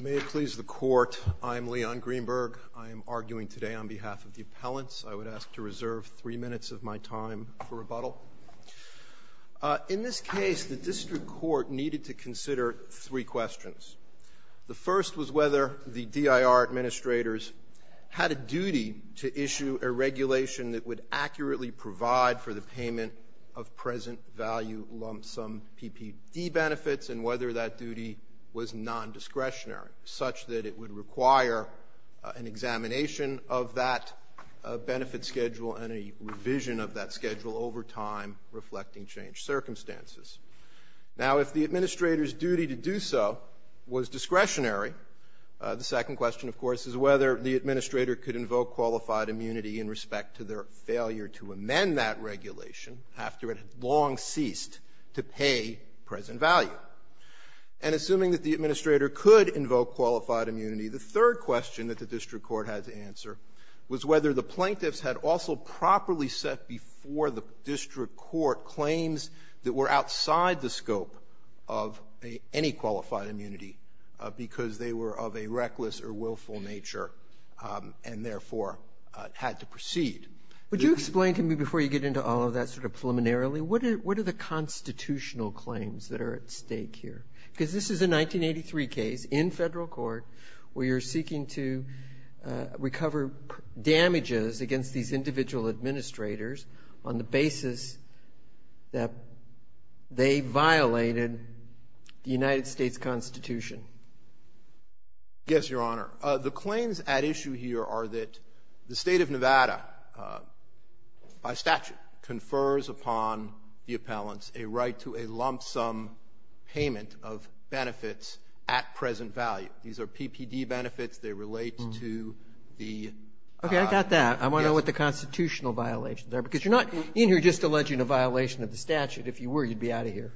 May it please the Court, I am Leon Greenberg. I am arguing today on behalf of the appellants. I would ask to reserve three minutes of my time for rebuttal. In this case, the district court needed to consider three questions. The first was whether the DIR administrators had a duty to issue a regulation that would accurately provide for the payment of present value lump sum PPD benefits and whether that duty was nondiscretionary, such that it would require an examination of that benefit schedule and a revision of that schedule over time, reflecting changed circumstances. Now, if the administrator's duty to do so was discretionary, the second question, of course, is whether the administrator could invoke qualified immunity in respect to their failure to amend that regulation after it had long ceased to pay present value. And assuming that the administrator could invoke qualified immunity, the third question that the district court had to answer was whether the plaintiffs had also properly set before the district court claims that were outside the scope of any qualified immunity because they were of a reckless or willful nature and therefore had to proceed. Would you explain to me before you get into all of that sort of preliminarily, what are the constitutional claims that are at stake here? Because this is a 1983 case in federal court where you're seeking to recover damages against these individual administrators on the basis that they violated the United States Constitution. Yes, Your Honor. The claims at issue here are that the State of Nevada, by statute, confers upon the appellants a right to a lump sum payment of benefits at present value. These are PPD benefits. They relate to the yes. I got that. I want to know what the constitutional violations are. Because you're not in here just alleging a violation of the statute. If you were, you'd be out of here.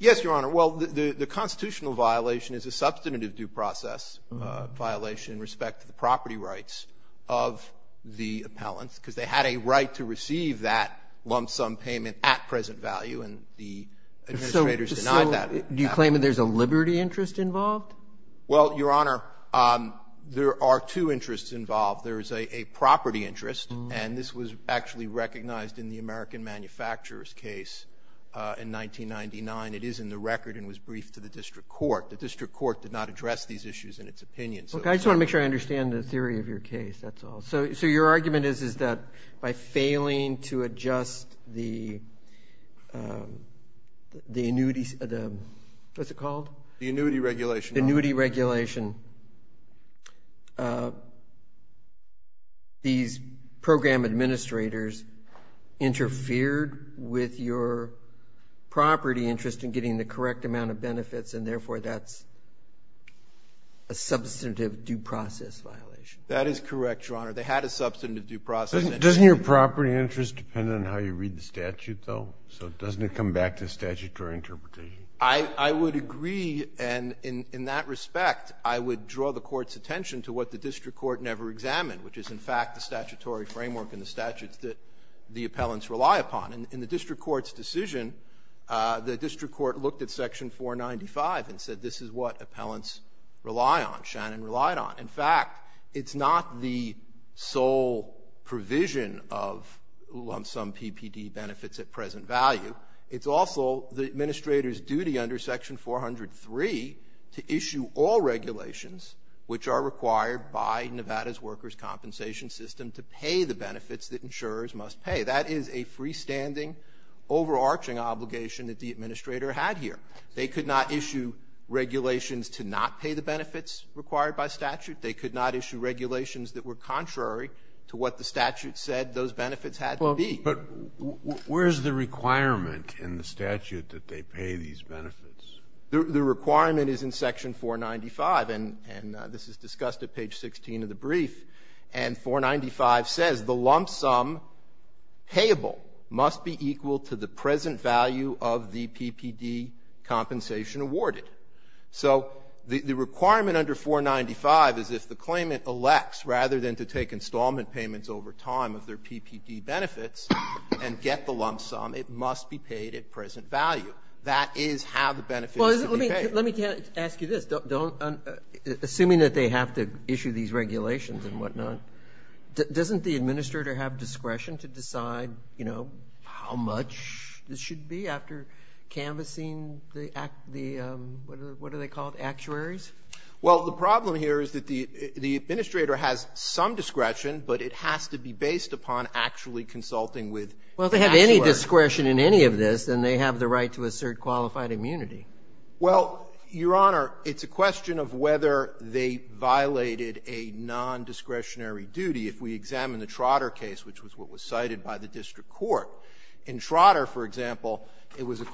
Yes, Your Honor. Well, the constitutional violation is a substantive due process violation in respect to the property rights of the appellants, because they had a right to receive that lump sum payment at present value, and the administrators denied that. So do you claim that there's a liberty interest involved? Well, Your Honor, there are two interests involved. There is a property interest, and this was actually recognized in the American manufacturers case in 1999. It is in the record and was briefed to the district court. The district court did not address these issues in its opinion. Okay. I just want to make sure I understand the theory of your case. That's all. So your argument is, is that by failing to adjust the annuities, what's it called? The annuity regulation. The annuity regulation. These program administrators interfered with your property interest in getting the correct amount of benefits, and therefore that's a substantive due process violation. That is correct, Your Honor. They had a substantive due process. Doesn't your property interest depend on how you read the statute, though? So doesn't it come back to the statutory interpretation? I would agree. And in that respect, I would draw the court's attention to what the district court never examined, which is, in fact, the statutory framework and the statutes that the appellants rely upon. In the district court's decision, the district court looked at Section 495 and said, this is what appellants rely on, Shannon relied on. In fact, it's not the sole provision of lump-sum PPD benefits at present value. It's also the administrator's duty under Section 403 to issue all regulations which are required by Nevada's workers' compensation system to pay the benefits that insurers must pay. That is a freestanding, overarching obligation that the administrator had here. They could not issue regulations to not pay the benefits required by statute. They could not issue regulations that were contrary to what the statute said those benefits had to be. But where is the requirement in the statute that they pay these benefits? The requirement is in Section 495. And this is discussed at page 16 of the brief. And 495 says the lump-sum payable must be equal to the present value of the PPD compensation awarded. So the requirement under 495 is if the claimant elects, rather than to take installment payments over time of their PPD benefits and get the lump-sum, it must be paid at present value. That is how the benefits should be paid. Well, let me ask you this. Assuming that they have to issue these regulations and whatnot, doesn't the administrator have discretion to decide, you know, how much this should be after canvassing the, what are they called, actuaries? Well, the problem here is that the administrator has some discretion, but it has to be based upon actually consulting with the actuary. Well, if they have any discretion in any of this, then they have the right to assert qualified immunity. Well, Your Honor, it's a question of whether they violated a nondiscretionary duty. If we examine the Trotter case, which was what was cited by the district court, in Trotter, for example, it was a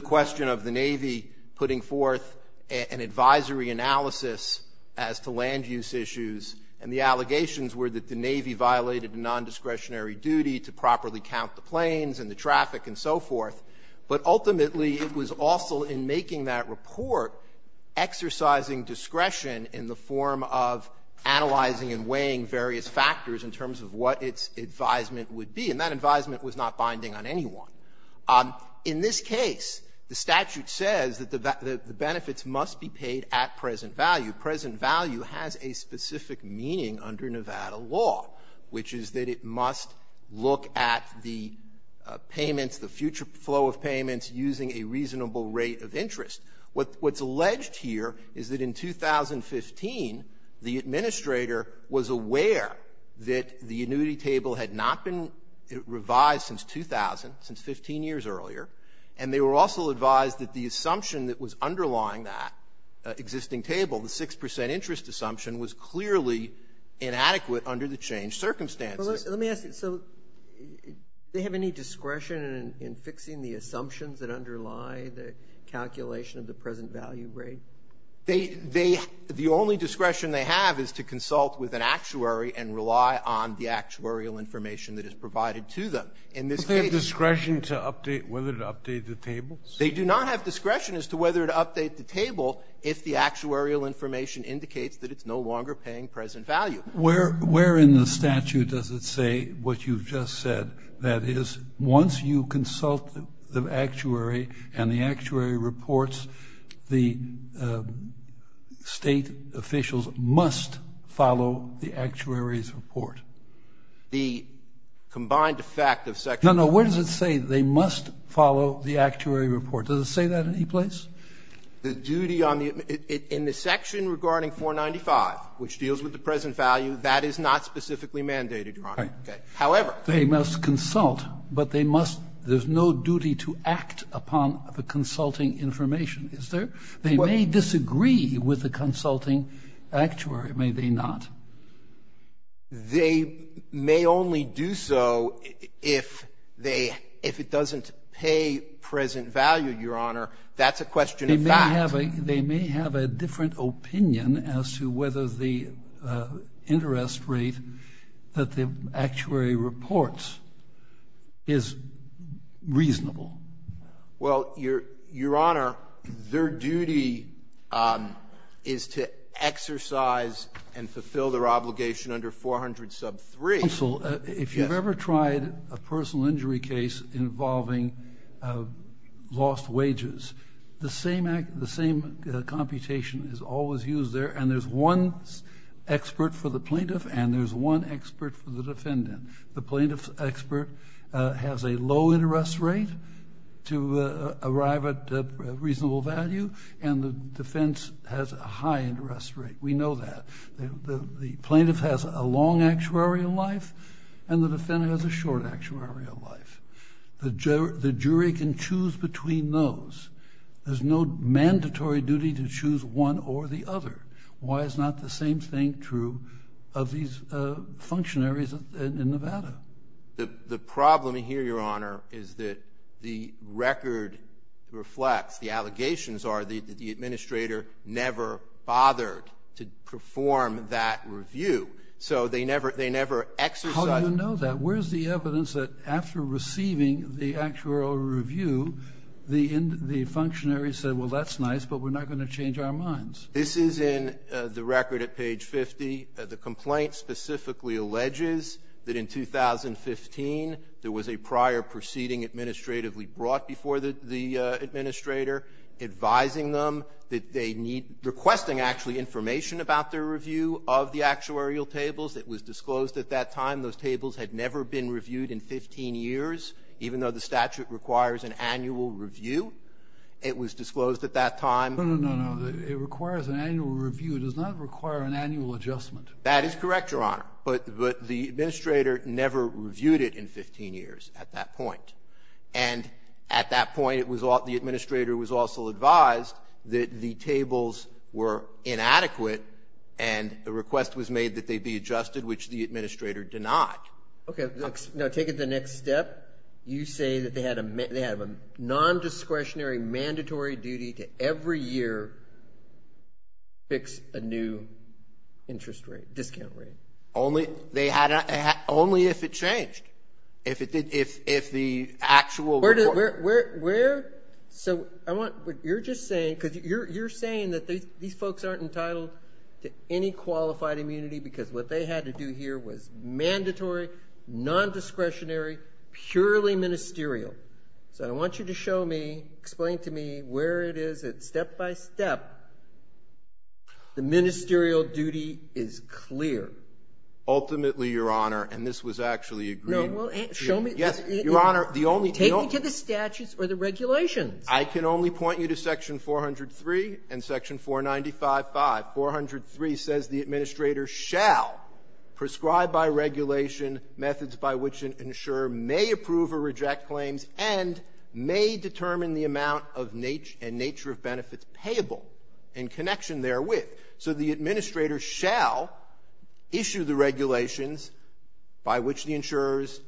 question of the Navy putting forth an advisory analysis as to land-use issues, and the allegations were that the Navy violated a nondiscretionary duty to properly count the planes and the traffic and so forth. But ultimately, it was also in making that report exercising discretion in the form of analyzing and weighing various factors in terms of what its advisement would be, and that advisement was not binding on anyone. In this case, the statute says that the benefits must be paid at present value. Present value has a specific meaning under Nevada law, which is that it must look at the payments, the future flow of payments using a reasonable rate of interest. What's alleged here is that in 2015, the administrator was aware that the annuity was 15 years earlier, and they were also advised that the assumption that was underlying that existing table, the 6 percent interest assumption, was clearly inadequate under the changed circumstances. Let me ask you. So do they have any discretion in fixing the assumptions that underlie the calculation of the present value rate? They the only discretion they have is to consult with an actuary and rely on the actuarial information that is provided to them. In this case they have discretion to update whether to update the table. They do not have discretion as to whether to update the table if the actuarial information indicates that it's no longer paying present value. Where in the statute does it say what you've just said, that is, once you consult the actuary and the actuary reports, the State officials must follow the actuary's report? The combined effect of Section 495. No, no. Where does it say they must follow the actuary report? Does it say that any place? The duty on the ---- in the section regarding 495, which deals with the present value, that is not specifically mandated, Your Honor. Right. Okay. However. They must consult, but they must ---- there's no duty to act upon the consulting information, is there? They may disagree with the consulting actuary, may they not? They may only do so if they ---- if it doesn't pay present value, Your Honor. That's a question of fact. They may have a different opinion as to whether the interest rate that the actuary reports is reasonable. Well, Your Honor, their duty is to exercise and fulfill their obligation under 400 sub 3. Counsel, if you've ever tried a personal injury case involving lost wages, the same act, the same computation is always used there, and there's one expert for the plaintiff and there's one expert for the defendant. The plaintiff's expert has a low interest rate to arrive at a reasonable value, and the defense has a high interest rate. We know that. The plaintiff has a long actuarial life and the defendant has a short actuarial life. The jury can choose between those. There's no mandatory duty to choose one or the other. Why is not the same thing true of these functionaries in Nevada? The problem here, Your Honor, is that the record reflects the allegations are that the administrator never bothered to perform that review. So they never exercised ---- How do you know that? Where's the evidence that after receiving the actuarial review, the functionary said, well, that's nice, but we're not going to change our minds? This is in the record at page 50. The complaint specifically alleges that in 2015, there was a prior proceeding administratively brought before the administrator, advising them that they need ---- requesting, actually, information about their review of the actuarial tables. It was disclosed at that time. Those tables had never been reviewed in 15 years, even though the statute requires an annual review. It was disclosed at that time. No, no, no, no. It requires an annual review. It does not require an annual adjustment. That is correct, Your Honor. But the administrator never reviewed it in 15 years at that point. And at that point, it was all ---- the administrator was also advised that the tables were inadequate, and a request was made that they be adjusted, which the administrator denied. Okay. Now, take it the next step. You say that they had a non-discretionary, mandatory duty to every year fix a new interest rate, discount rate. Only if it changed. If the actual ---- Where did the ---- where ---- so I want what you're just saying, because you're saying that these folks aren't entitled to any qualified immunity, because what they had to do here was mandatory, non-discretionary, purely ministerial. So I want you to show me, explain to me where it is that, step by step, the ministerial duty is clear. Ultimately, Your Honor, and this was actually agreed to ---- No, well, show me ---- Yes, Your Honor, the only ---- Take me to the statutes or the regulations. I can only point you to Section 403 and Section 495.5. 403 says the Administrator shall prescribe by regulation methods by which an insurer may approve or reject claims and may determine the amount of nature and nature of benefits payable in connection therewith. So the Administrator shall issue the regulations by which the insurers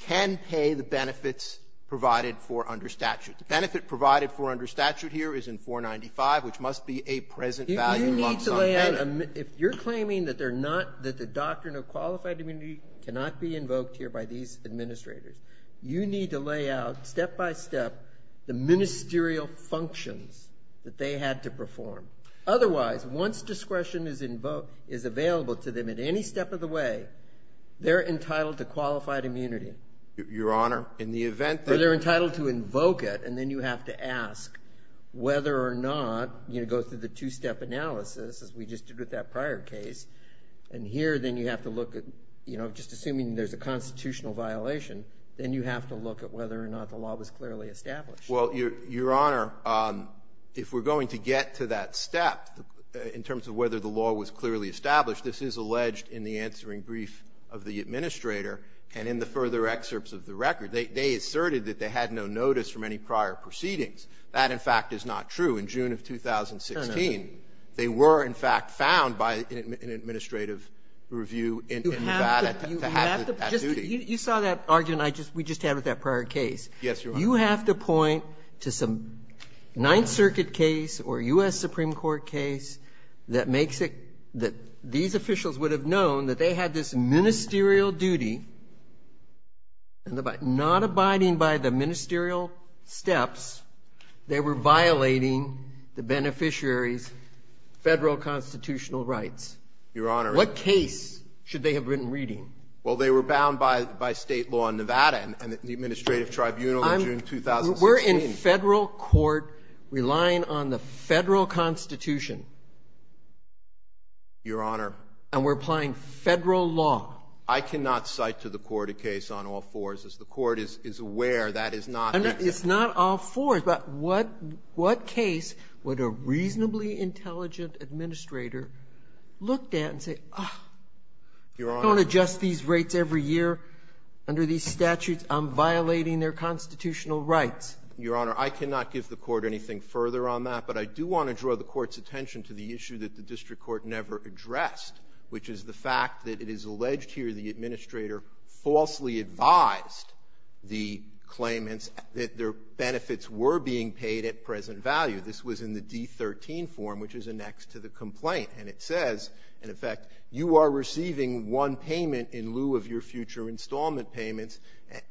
can pay the benefits provided for under statute. The benefit provided for under statute here is in 495, which must be a present value level. But you need to lay out, if you're claiming that they're not, that the doctrine of qualified immunity cannot be invoked here by these Administrators, you need to lay out, step by step, the ministerial functions that they had to perform. Otherwise, once discretion is available to them at any step of the way, they're entitled to qualified immunity. Your Honor, in the event that ---- Or they're entitled to invoke it, and then you have to ask whether or not, you know, to go through the two-step analysis, as we just did with that prior case, and here then you have to look at, you know, just assuming there's a constitutional violation, then you have to look at whether or not the law was clearly established. Well, Your Honor, if we're going to get to that step in terms of whether the law was clearly established, this is alleged in the answering brief of the Administrator and in the further excerpts of the record. They asserted that they had no notice from any prior proceedings. That, in fact, is not true. In June of 2016, they were, in fact, found by an administrative review in Nevada to have that duty. You saw that argument I just ---- we just had with that prior case. Yes, Your Honor. You have to point to some Ninth Circuit case or U.S. Supreme Court case that makes it that these officials would have known that they had this ministerial duty, and not abiding by the ministerial steps, they were violating the beneficiary's Federal constitutional rights. Your Honor ---- What case should they have been reading? Well, they were bound by State law in Nevada and the Administrative Tribunal in June of 2016. We're in Federal court relying on the Federal Constitution. Your Honor ---- And we're applying Federal law. I cannot cite to the Court a case on all fours. As the Court is aware, that is not the case. It's not all fours. But what case would a reasonably intelligent administrator look at and say, oh, I don't adjust these rates every year under these statutes. I'm violating their constitutional rights. Your Honor, I cannot give the Court anything further on that. But I do want to draw the Court's attention to the issue that the district court never addressed, which is the fact that it is alleged here the administrator falsely advised the claimants that their benefits were being paid at present value. This was in the D-13 form, which is annexed to the complaint. And it says, in effect, you are receiving one payment in lieu of your future installment payments,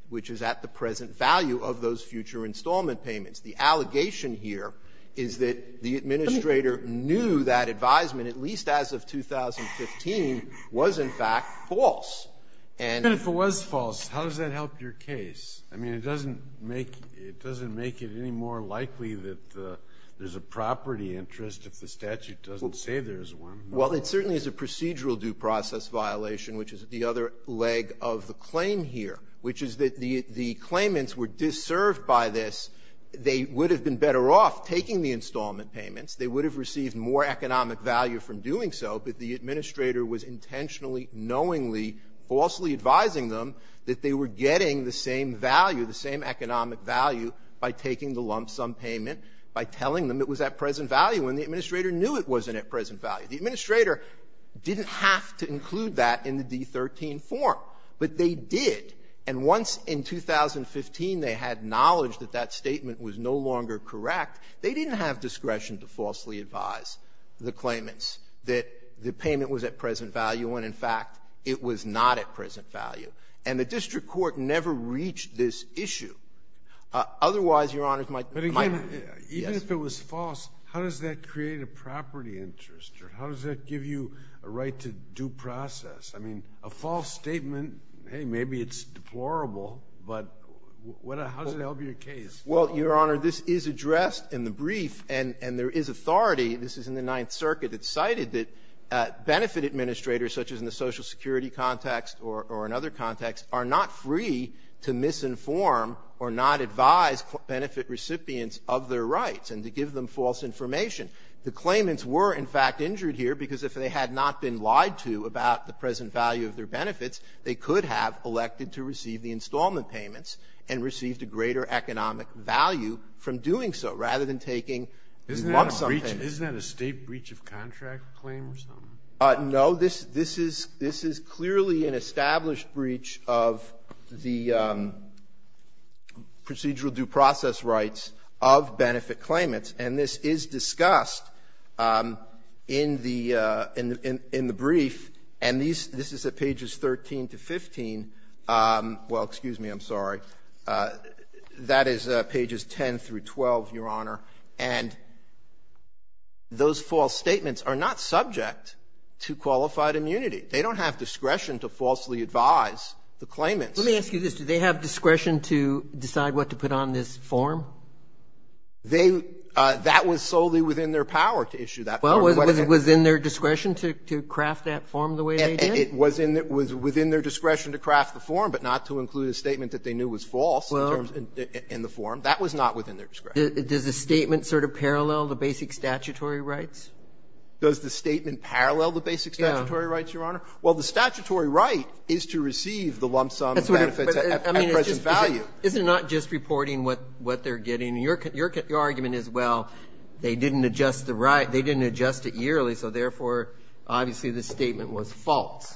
which is at the present value of those future installment payments. The allegation here is that the administrator knew that advisement, at least as of 2015, was, in fact, false. And ---- And if it was false, how does that help your case? I mean, it doesn't make it any more likely that there's a property interest if the statute doesn't say there's one. Well, it certainly is a procedural due process violation, which is the other leg of the claim here, which is that the claimants were disserved by this. They would have been better off taking the installment payments. They would have received more economic value from doing so, but the administrator was intentionally, knowingly, falsely advising them that they were getting the same value, the same economic value, by taking the lump sum payment, by telling them it was at present value, and the administrator knew it wasn't at present value. The administrator didn't have to include that in the D-13 form. But they did. And once in 2015 they had knowledge that that statement was no longer correct, they didn't have discretion to falsely advise the claimants that the payment was at present value, when, in fact, it was not at present value. And the district court never reached this issue. Otherwise, Your Honors, my ---- But again, even if it was false, how does that create a property interest? Or how does that give you a right to due process? I mean, a false statement, hey, maybe it's deplorable, but what a ---- how does that help your case? Well, Your Honor, this is addressed in the brief, and there is authority. This is in the Ninth Circuit. It's cited that benefit administrators, such as in the Social Security context or in other contexts, are not free to misinform or not advise benefit recipients of their rights and to give them false information. The claimants were, in fact, injured here because if they had not been lied to about the present value of their benefits, they could have elected to receive the installment payments and received a greater economic value from doing so, rather than taking a lump sum payment. Isn't that a state breach of contract claim or something? No. This is clearly an established breach of the procedural due process rights of benefit claimants, and this is discussed in the brief, and this is at pages 13 to 15. Well, excuse me, I'm sorry. That is pages 10 through 12, Your Honor. And those false statements are not subject to qualified immunity. They don't have discretion to falsely advise the claimants. Let me ask you this. Do they have discretion to decide what to put on this form? They — that was solely within their power to issue that form. Well, was it within their discretion to craft that form the way they did? It was in their — it was within their discretion to craft the form, but not to include a statement that they knew was false in the form. That was not within their discretion. Does the statement sort of parallel the basic statutory rights? Does the statement parallel the basic statutory rights, Your Honor? Well, the statutory right is to receive the lump sum benefits at present value. Isn't it not just reporting what they're getting? Your argument is, well, they didn't adjust the right — they didn't adjust it yearly, so therefore, obviously, the statement was false.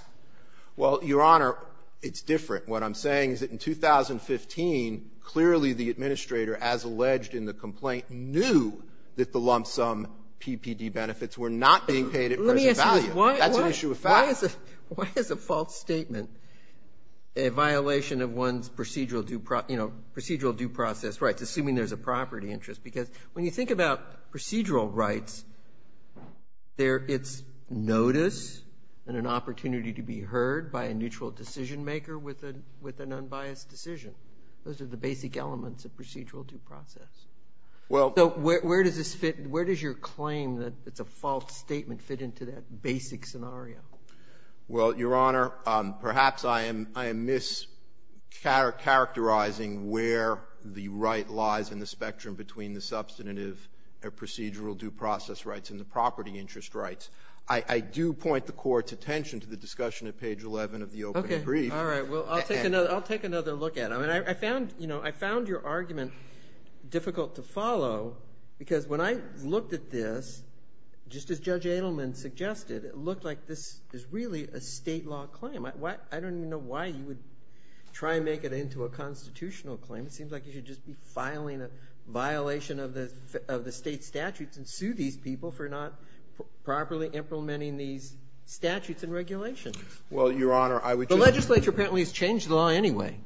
Well, Your Honor, it's different. What I'm saying is that in 2015, clearly the administrator, as alleged in the complaint, knew that the lump sum PPD benefits were not being paid at present value. That's an issue of fact. Why is a false statement a violation of one's procedural due process rights, assuming there's a property interest? Because when you think about procedural rights, it's notice and an opportunity to be heard by a neutral decision-maker with an unbiased decision. Those are the basic elements of procedural due process. Well — So where does this fit — where does your claim that it's a false statement fit into that basic scenario? Well, Your Honor, perhaps I am mischaracterizing where the right lies in the spectrum between the substantive procedural due process rights and the property interest rights. I do point the Court's attention to the discussion at page 11 of the open brief. Okay. All right. Well, I'll take another look at it. I mean, I found — you know, I found your argument difficult to follow, because when I looked at this, just as Judge Adelman suggested, it looked like this is really a State law claim. I don't even know why you would try and make it into a constitutional claim. It seems like you should just be filing a violation of the State statutes and sue these people for not properly implementing these statutes and regulations. Well, Your Honor, I would just — The legislature apparently has changed the law anyway.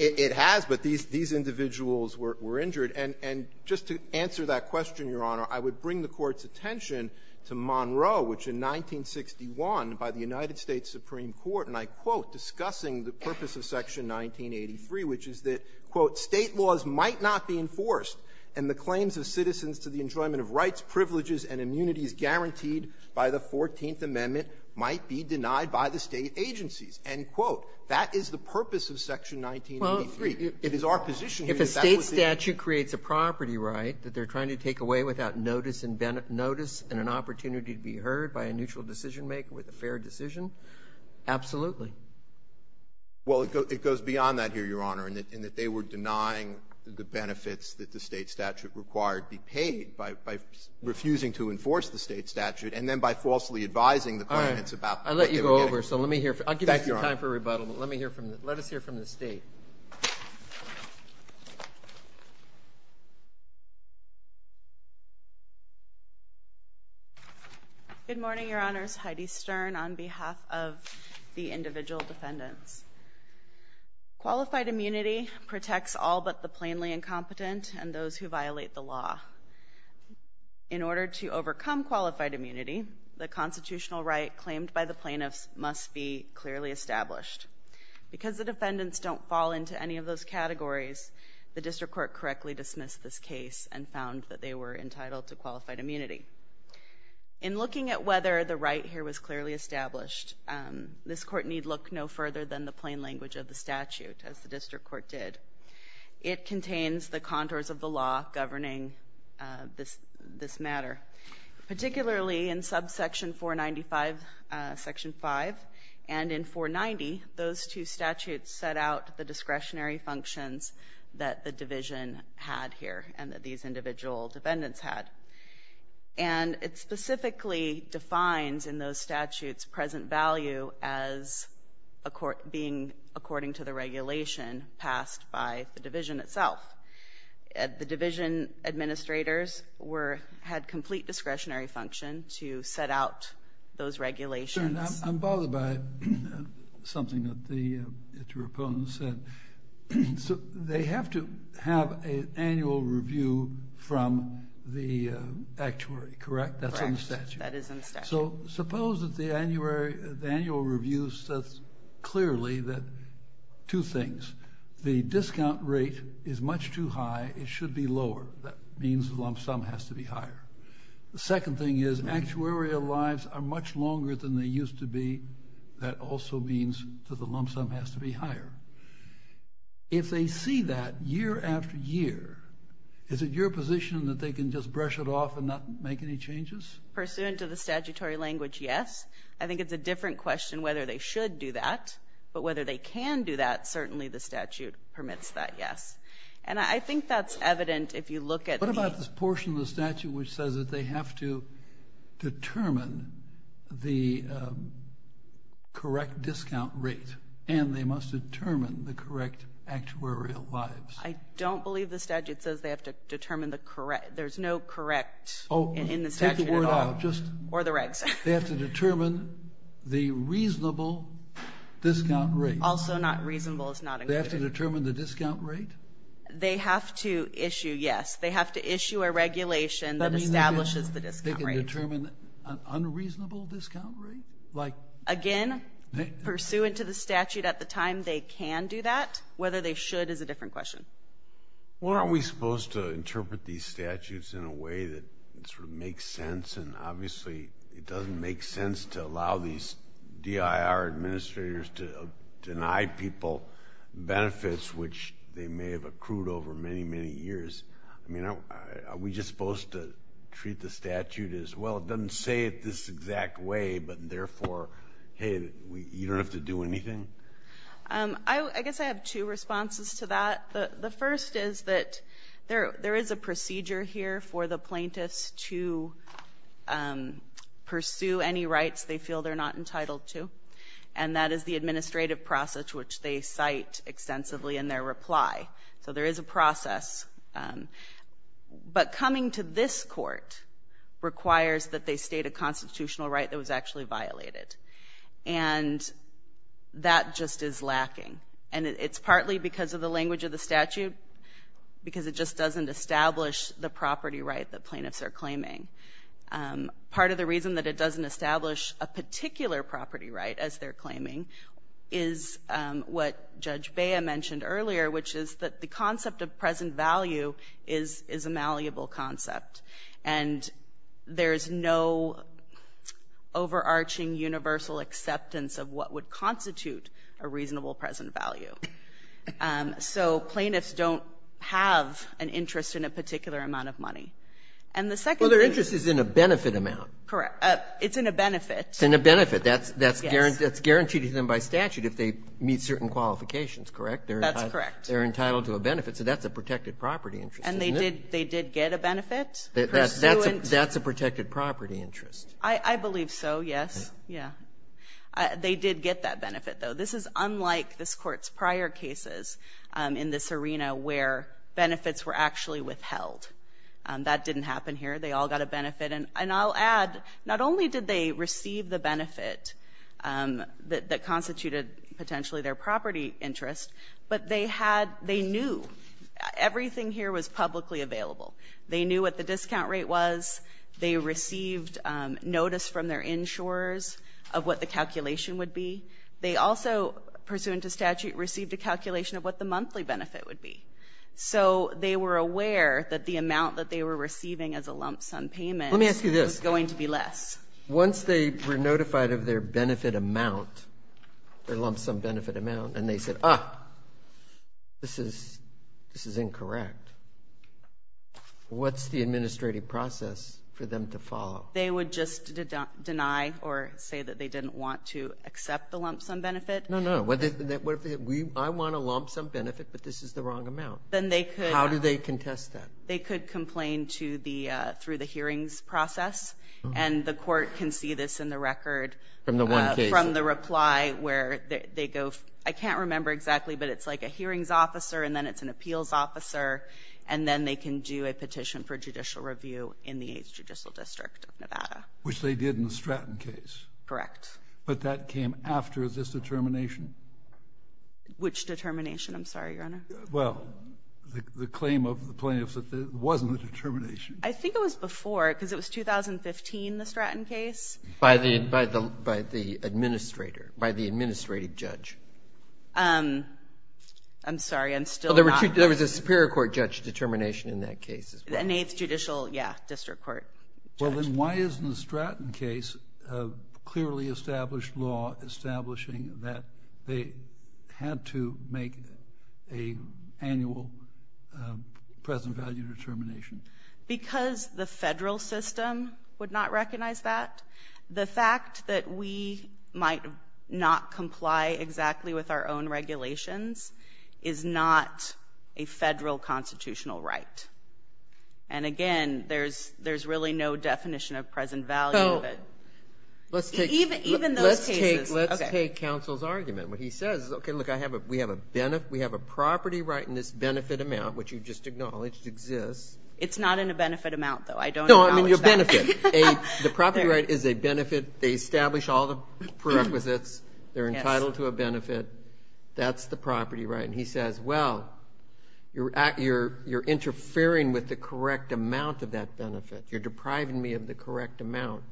It has, but these individuals were injured. And just to answer that question, Your Honor, I would bring the Court's attention to Monroe, which in 1961, by the United States Supreme Court, and I quote, discussing the purpose of Section 1983, which is that, quote, "'State laws' might not be enforced, and the claims of citizens to the enjoyment of rights, privileges, and immunities guaranteed by the Fourteenth Amendment might be denied by the State agencies.' End quote. That is the purpose of Section 1983. It is our position that that was the — If it's a property right that they're trying to take away without notice and an opportunity to be heard by a neutral decision-maker with a fair decision, absolutely. Well, it goes beyond that here, Your Honor, in that they were denying the benefits that the State statute required be paid by refusing to enforce the State statute and then by falsely advising the claimants about — All right. I'll let you go over, so let me hear — Thank you, Your Honor. I'll give you some time for rebuttal, but let me hear from — let us hear from the Good morning, Your Honors. Heidi Stern on behalf of the individual defendants. Qualified immunity protects all but the plainly incompetent and those who violate the law. In order to overcome qualified immunity, the constitutional right claimed by the plaintiffs must be clearly established. Because the defendants don't fall into any of those categories, the District Court correctly dismissed this case and found that they were entitled to qualified immunity. In looking at whether the right here was clearly established, this Court need look no further than the plain language of the statute, as the District Court did. It contains the contours of the law governing this matter, particularly in subsection 495, section 5, and in 490, those two statutes set out the discretionary functions that the division had here and that these individual defendants had. And it specifically defines in those statutes present value as being according to the regulation passed by the division itself. The division administrators had complete discretionary function to set out those regulations. Mr. Stern, I'm bothered by something that the two opponents said. They have to have an annual review from the actuary, correct? That's in the statute. Correct. That is in the statute. So suppose that the annual review says clearly that two things. The discount rate is much too high. It should be lower. That means the lump sum has to be higher. The second thing is actuarial lives are much longer than they used to be. That also means that the lump sum has to be higher. If they see that year after year, is it your position that they can just brush it off and not make any changes? Pursuant to the statutory language, yes. I think it's a different question whether they should do that, but whether they can do that, certainly the statute permits that, yes. And I think that's evident if you look at the — They have to determine the correct discount rate, and they must determine the correct actuarial lives. I don't believe the statute says they have to determine the correct. There's no correct in the statute at all, or the regs. They have to determine the reasonable discount rate. Also not reasonable is not included. They have to determine the discount rate? They have to issue, yes. They have to issue a regulation that establishes the discount rate. They have to determine an unreasonable discount rate? Again, pursuant to the statute at the time, they can do that. Whether they should is a different question. Well, aren't we supposed to interpret these statutes in a way that sort of makes sense? And obviously, it doesn't make sense to allow these DIR administrators to deny people benefits which they may have accrued over many, many years. I mean, are we just supposed to treat the statute as, well, it doesn't say it this exact way, but therefore, hey, you don't have to do anything? I guess I have two responses to that. The first is that there is a procedure here for the plaintiffs to pursue any rights they feel they're not entitled to, and that is the administrative process which they cite extensively in their reply. So there is a process. But coming to this court requires that they state a constitutional right that was actually violated, and that just is lacking. And it's partly because of the language of the statute because it just doesn't establish the property right that plaintiffs are claiming. Part of the reason that it doesn't establish a particular property right as they're claiming is what Judge Bea mentioned earlier, which is that the concept of present value is a malleable concept, and there's no overarching universal acceptance of what would constitute a reasonable present value. So plaintiffs don't have an interest in a particular amount of money. And the second thing is the interest is in a benefit amount. Correct. It's in a benefit. It's in a benefit. Yes. And that's guaranteed to them by statute if they meet certain qualifications, correct? That's correct. They're entitled to a benefit, so that's a protected property interest, isn't it? And they did get a benefit pursuant to that. That's a protected property interest. I believe so, yes. Yeah. They did get that benefit, though. This is unlike this Court's prior cases in this arena where benefits were actually withheld. That didn't happen here. They all got a benefit. And I'll add, not only did they receive the benefit that constituted potentially their property interest, but they had — they knew. Everything here was publicly available. They knew what the discount rate was. They received notice from their insurers of what the calculation would be. They also, pursuant to statute, received a calculation of what the monthly benefit would be. So they were aware that the amount that they were going to lump-sum payment — Let me ask you this. — was going to be less. Once they were notified of their benefit amount, their lump-sum benefit amount, and they said, ah, this is incorrect, what's the administrative process for them to follow? They would just deny or say that they didn't want to accept the lump-sum benefit? No, no. What if they said, I want a lump-sum benefit, but this is the wrong amount? Then they could — How do they contest that? They could complain to the — through the hearings process, and the court can see this in the record — From the one case? — from the reply, where they go — I can't remember exactly, but it's like a hearings officer, and then it's an appeals officer, and then they can do a petition for judicial review in the 8th Judicial District of Nevada. Which they did in the Stratton case. Correct. But that came after this determination? Which determination? I'm sorry, Your Honor. Well, the claim of the plaintiffs that there wasn't a determination. I think it was before, because it was 2015, the Stratton case. By the administrator, by the administrative judge. I'm sorry, I'm still not — Well, there was a Superior Court judge determination in that case as well. An 8th Judicial, yeah, District Court judge. Well, then why isn't the Stratton case a clearly established law establishing that they had to make an annual present value determination? Because the federal system would not recognize that. The fact that we might not comply exactly with our own regulations is not a federal constitutional right. And again, there's really no definition of present value of it. Even those cases — But he says, okay, look, we have a property right in this benefit amount, which you just acknowledged exists. It's not in a benefit amount, though. I don't acknowledge that. No, I mean your benefit. The property right is a benefit. They establish all the prerequisites. They're entitled to a benefit. That's the property right. And he says, well, you're interfering with the correct amount of that benefit. You're depriving me of the correct amount.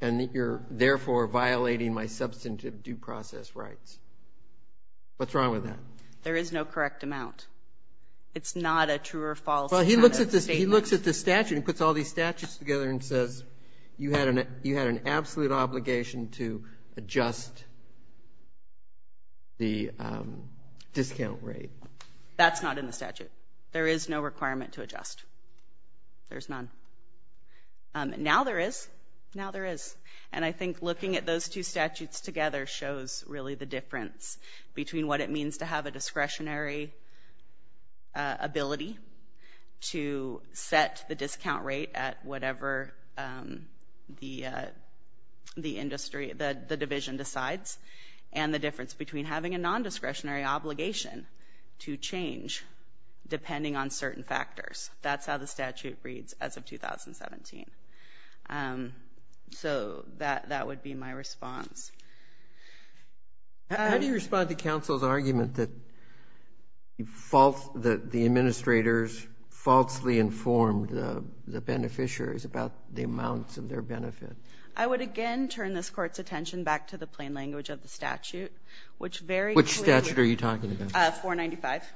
And you're, therefore, violating my substantive due process rights. What's wrong with that? There is no correct amount. It's not a true or false kind of statement. Well, he looks at the statute and puts all these statutes together and says you had an absolute obligation to adjust the discount rate. That's not in the statute. There is no requirement to adjust. There's none. Now there is. Now there is. And I think looking at those two statutes together shows, really, the difference between what it means to have a discretionary ability to set the discount rate at whatever the division decides and the difference between having a nondiscretionary obligation to change depending on certain factors. That's how the statute reads as of 2017. So that would be my response. How do you respond to counsel's argument that the administrators falsely informed the beneficiaries about the amounts of their benefit? I would, again, turn this Court's attention back to the plain language of the statute, which very clearly — Which statute are you talking about? 495. 495.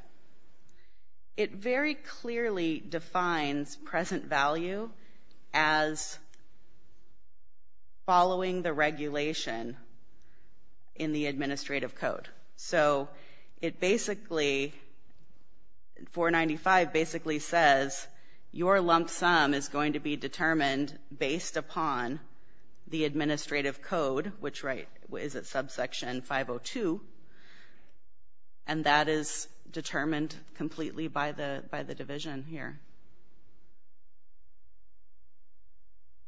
It very clearly defines present value as following the regulation in the administrative code. So it basically — 495 basically says your lump sum is going to be determined based upon the administrative code, which is at subsection 502. And that is determined completely by the division here.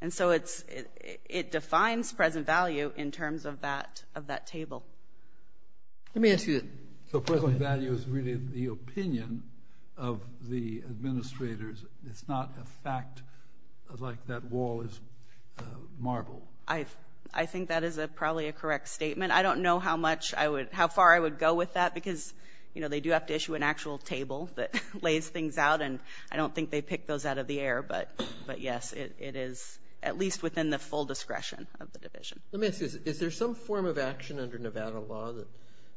And so it defines present value in terms of that table. Let me ask you — So present value is really the opinion of the administrators. It's not a fact like that wall is marble. I think that is probably a correct statement. I don't know how far I would go with that because, you know, they do have to issue an actual table that lays things out, and I don't think they pick those out of the air. But yes, it is at least within the full discretion of the division. Let me ask you, is there some form of action under Nevada law that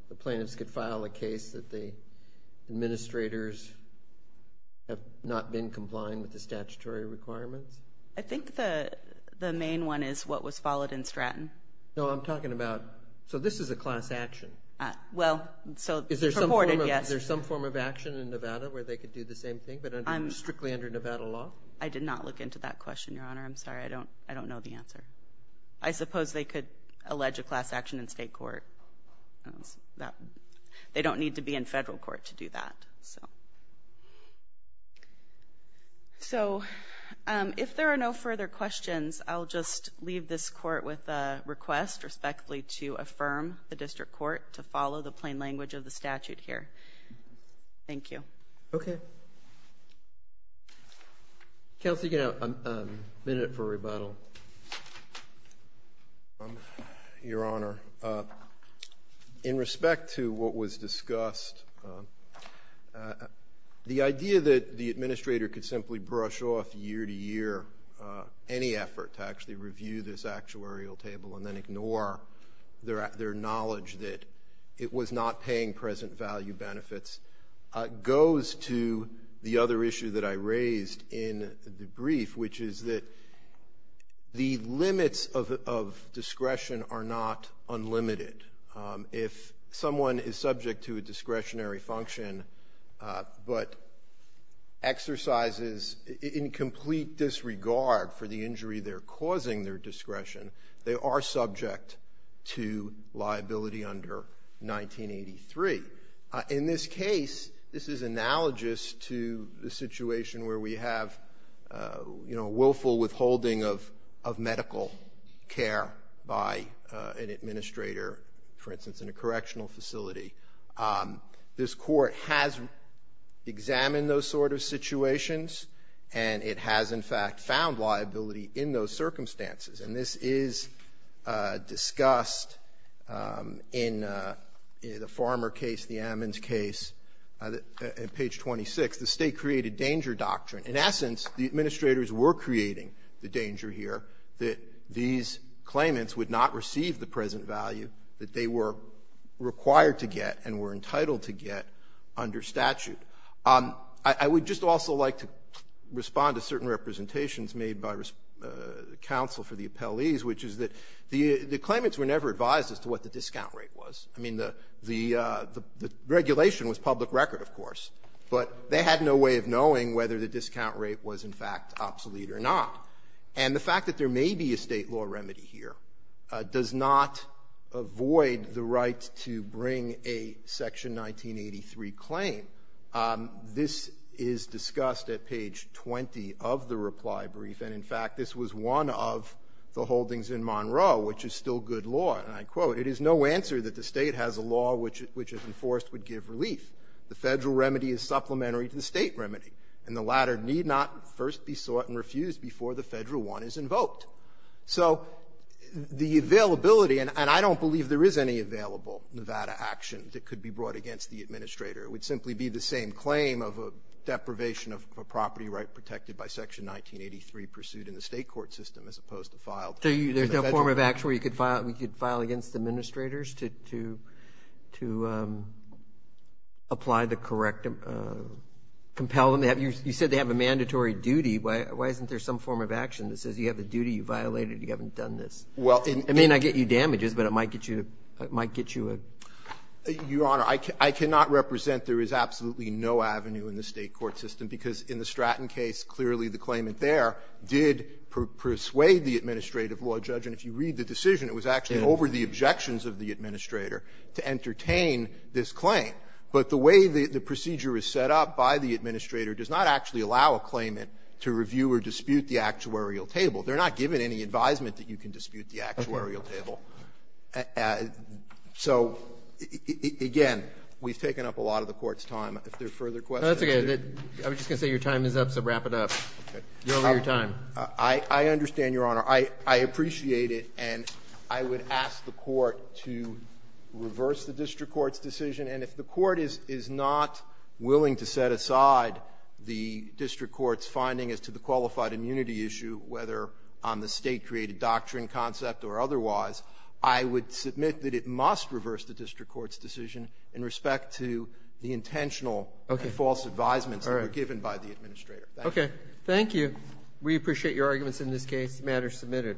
the plaintiffs could in complying with the statutory requirements? I think the main one is what was followed in Stratton. No, I'm talking about — so this is a class action. Well — Purported, yes. Is there some form of action in Nevada where they could do the same thing, but strictly under Nevada law? I did not look into that question, Your Honor. I'm sorry. I don't know the answer. I suppose they could allege a class action in state court. They don't need to be in federal court to do that. So if there are no further questions, I'll just leave this court with a request, respectfully, to affirm the district court to follow the plain language of the statute here. Thank you. Okay. Counsel, you can have a minute for rebuttal. Your Honor, in respect to what was discussed, the idea that the administrator could simply brush off year to year any effort to actually review this actuarial table and then ignore their knowledge that it was not paying present value benefits goes to the other issue that I raised in the brief, which is that the limits of discretion are not unlimited. If someone is subject to a discretionary function but exercises in complete disregard for the injury they're causing their discretion, they are subject to liability under 1983. In this case, this is analogous to the situation where we have, you know, a willful withholding of medical care by an administrator, for instance, in a correctional facility. This Court has examined those sort of situations, and it has, in fact, found liability in those circumstances. And this is discussed in the Farmer case, the Ammons case, at page 26, the state-created danger doctrine. In essence, the administrators were creating the danger here that these claimants would not receive the present value that they were required to get and were entitled to get under statute. I would just also like to respond to certain representations made by the counsel for the appellees, which is that the claimants were never advised as to what the discount rate was. I mean, the regulation was public record, of course, but they had no way of knowing whether the discount rate was, in fact, obsolete or not. And the fact that there may be a State law remedy here does not avoid the right to bring a Section 1983 claim. This is discussed at page 20 of the reply brief, and, in fact, this was one of the holdings in Monroe, which is still good law. And I quote, "...it is no answer that the State has a law which, if enforced, would give relief. The Federal remedy is supplementary to the State remedy, and the latter need not first be sought and refused before the Federal one is invoked." So the availability, and I don't believe there is any available Nevada action that would simply be the same claim of a deprivation of a property right protected by Section 1983 pursued in the State court system as opposed to filed in the Federal remedy. So there's no form of action where you could file against administrators to apply the corrective or compel them to have your you said they have a mandatory duty. Why isn't there some form of action that says you have a duty, you violated it, you haven't done this? Well, it may not get you damages, but it might get you a, it might get you a. Your Honor, I cannot represent there is absolutely no avenue in the State court system, because in the Stratton case, clearly the claimant there did persuade the administrative law judge. And if you read the decision, it was actually over the objections of the administrator to entertain this claim. But the way the procedure is set up by the administrator does not actually allow a claimant to review or dispute the actuarial table. They're not given any advisement that you can dispute the actuarial table. So, again, we've taken up a lot of the Court's time. If there are further questions. I was just going to say your time is up, so wrap it up. You're over your time. I understand, Your Honor. I appreciate it, and I would ask the Court to reverse the district court's decision. And if the Court is not willing to set aside the district court's finding as to the qualified immunity issue, whether on the State-created doctrine concept or otherwise, I would submit that it must reverse the district court's decision in respect to the intentional false advisements that were given by the administrator. Thank you. Thank you. We appreciate your arguments in this case. The matter is submitted.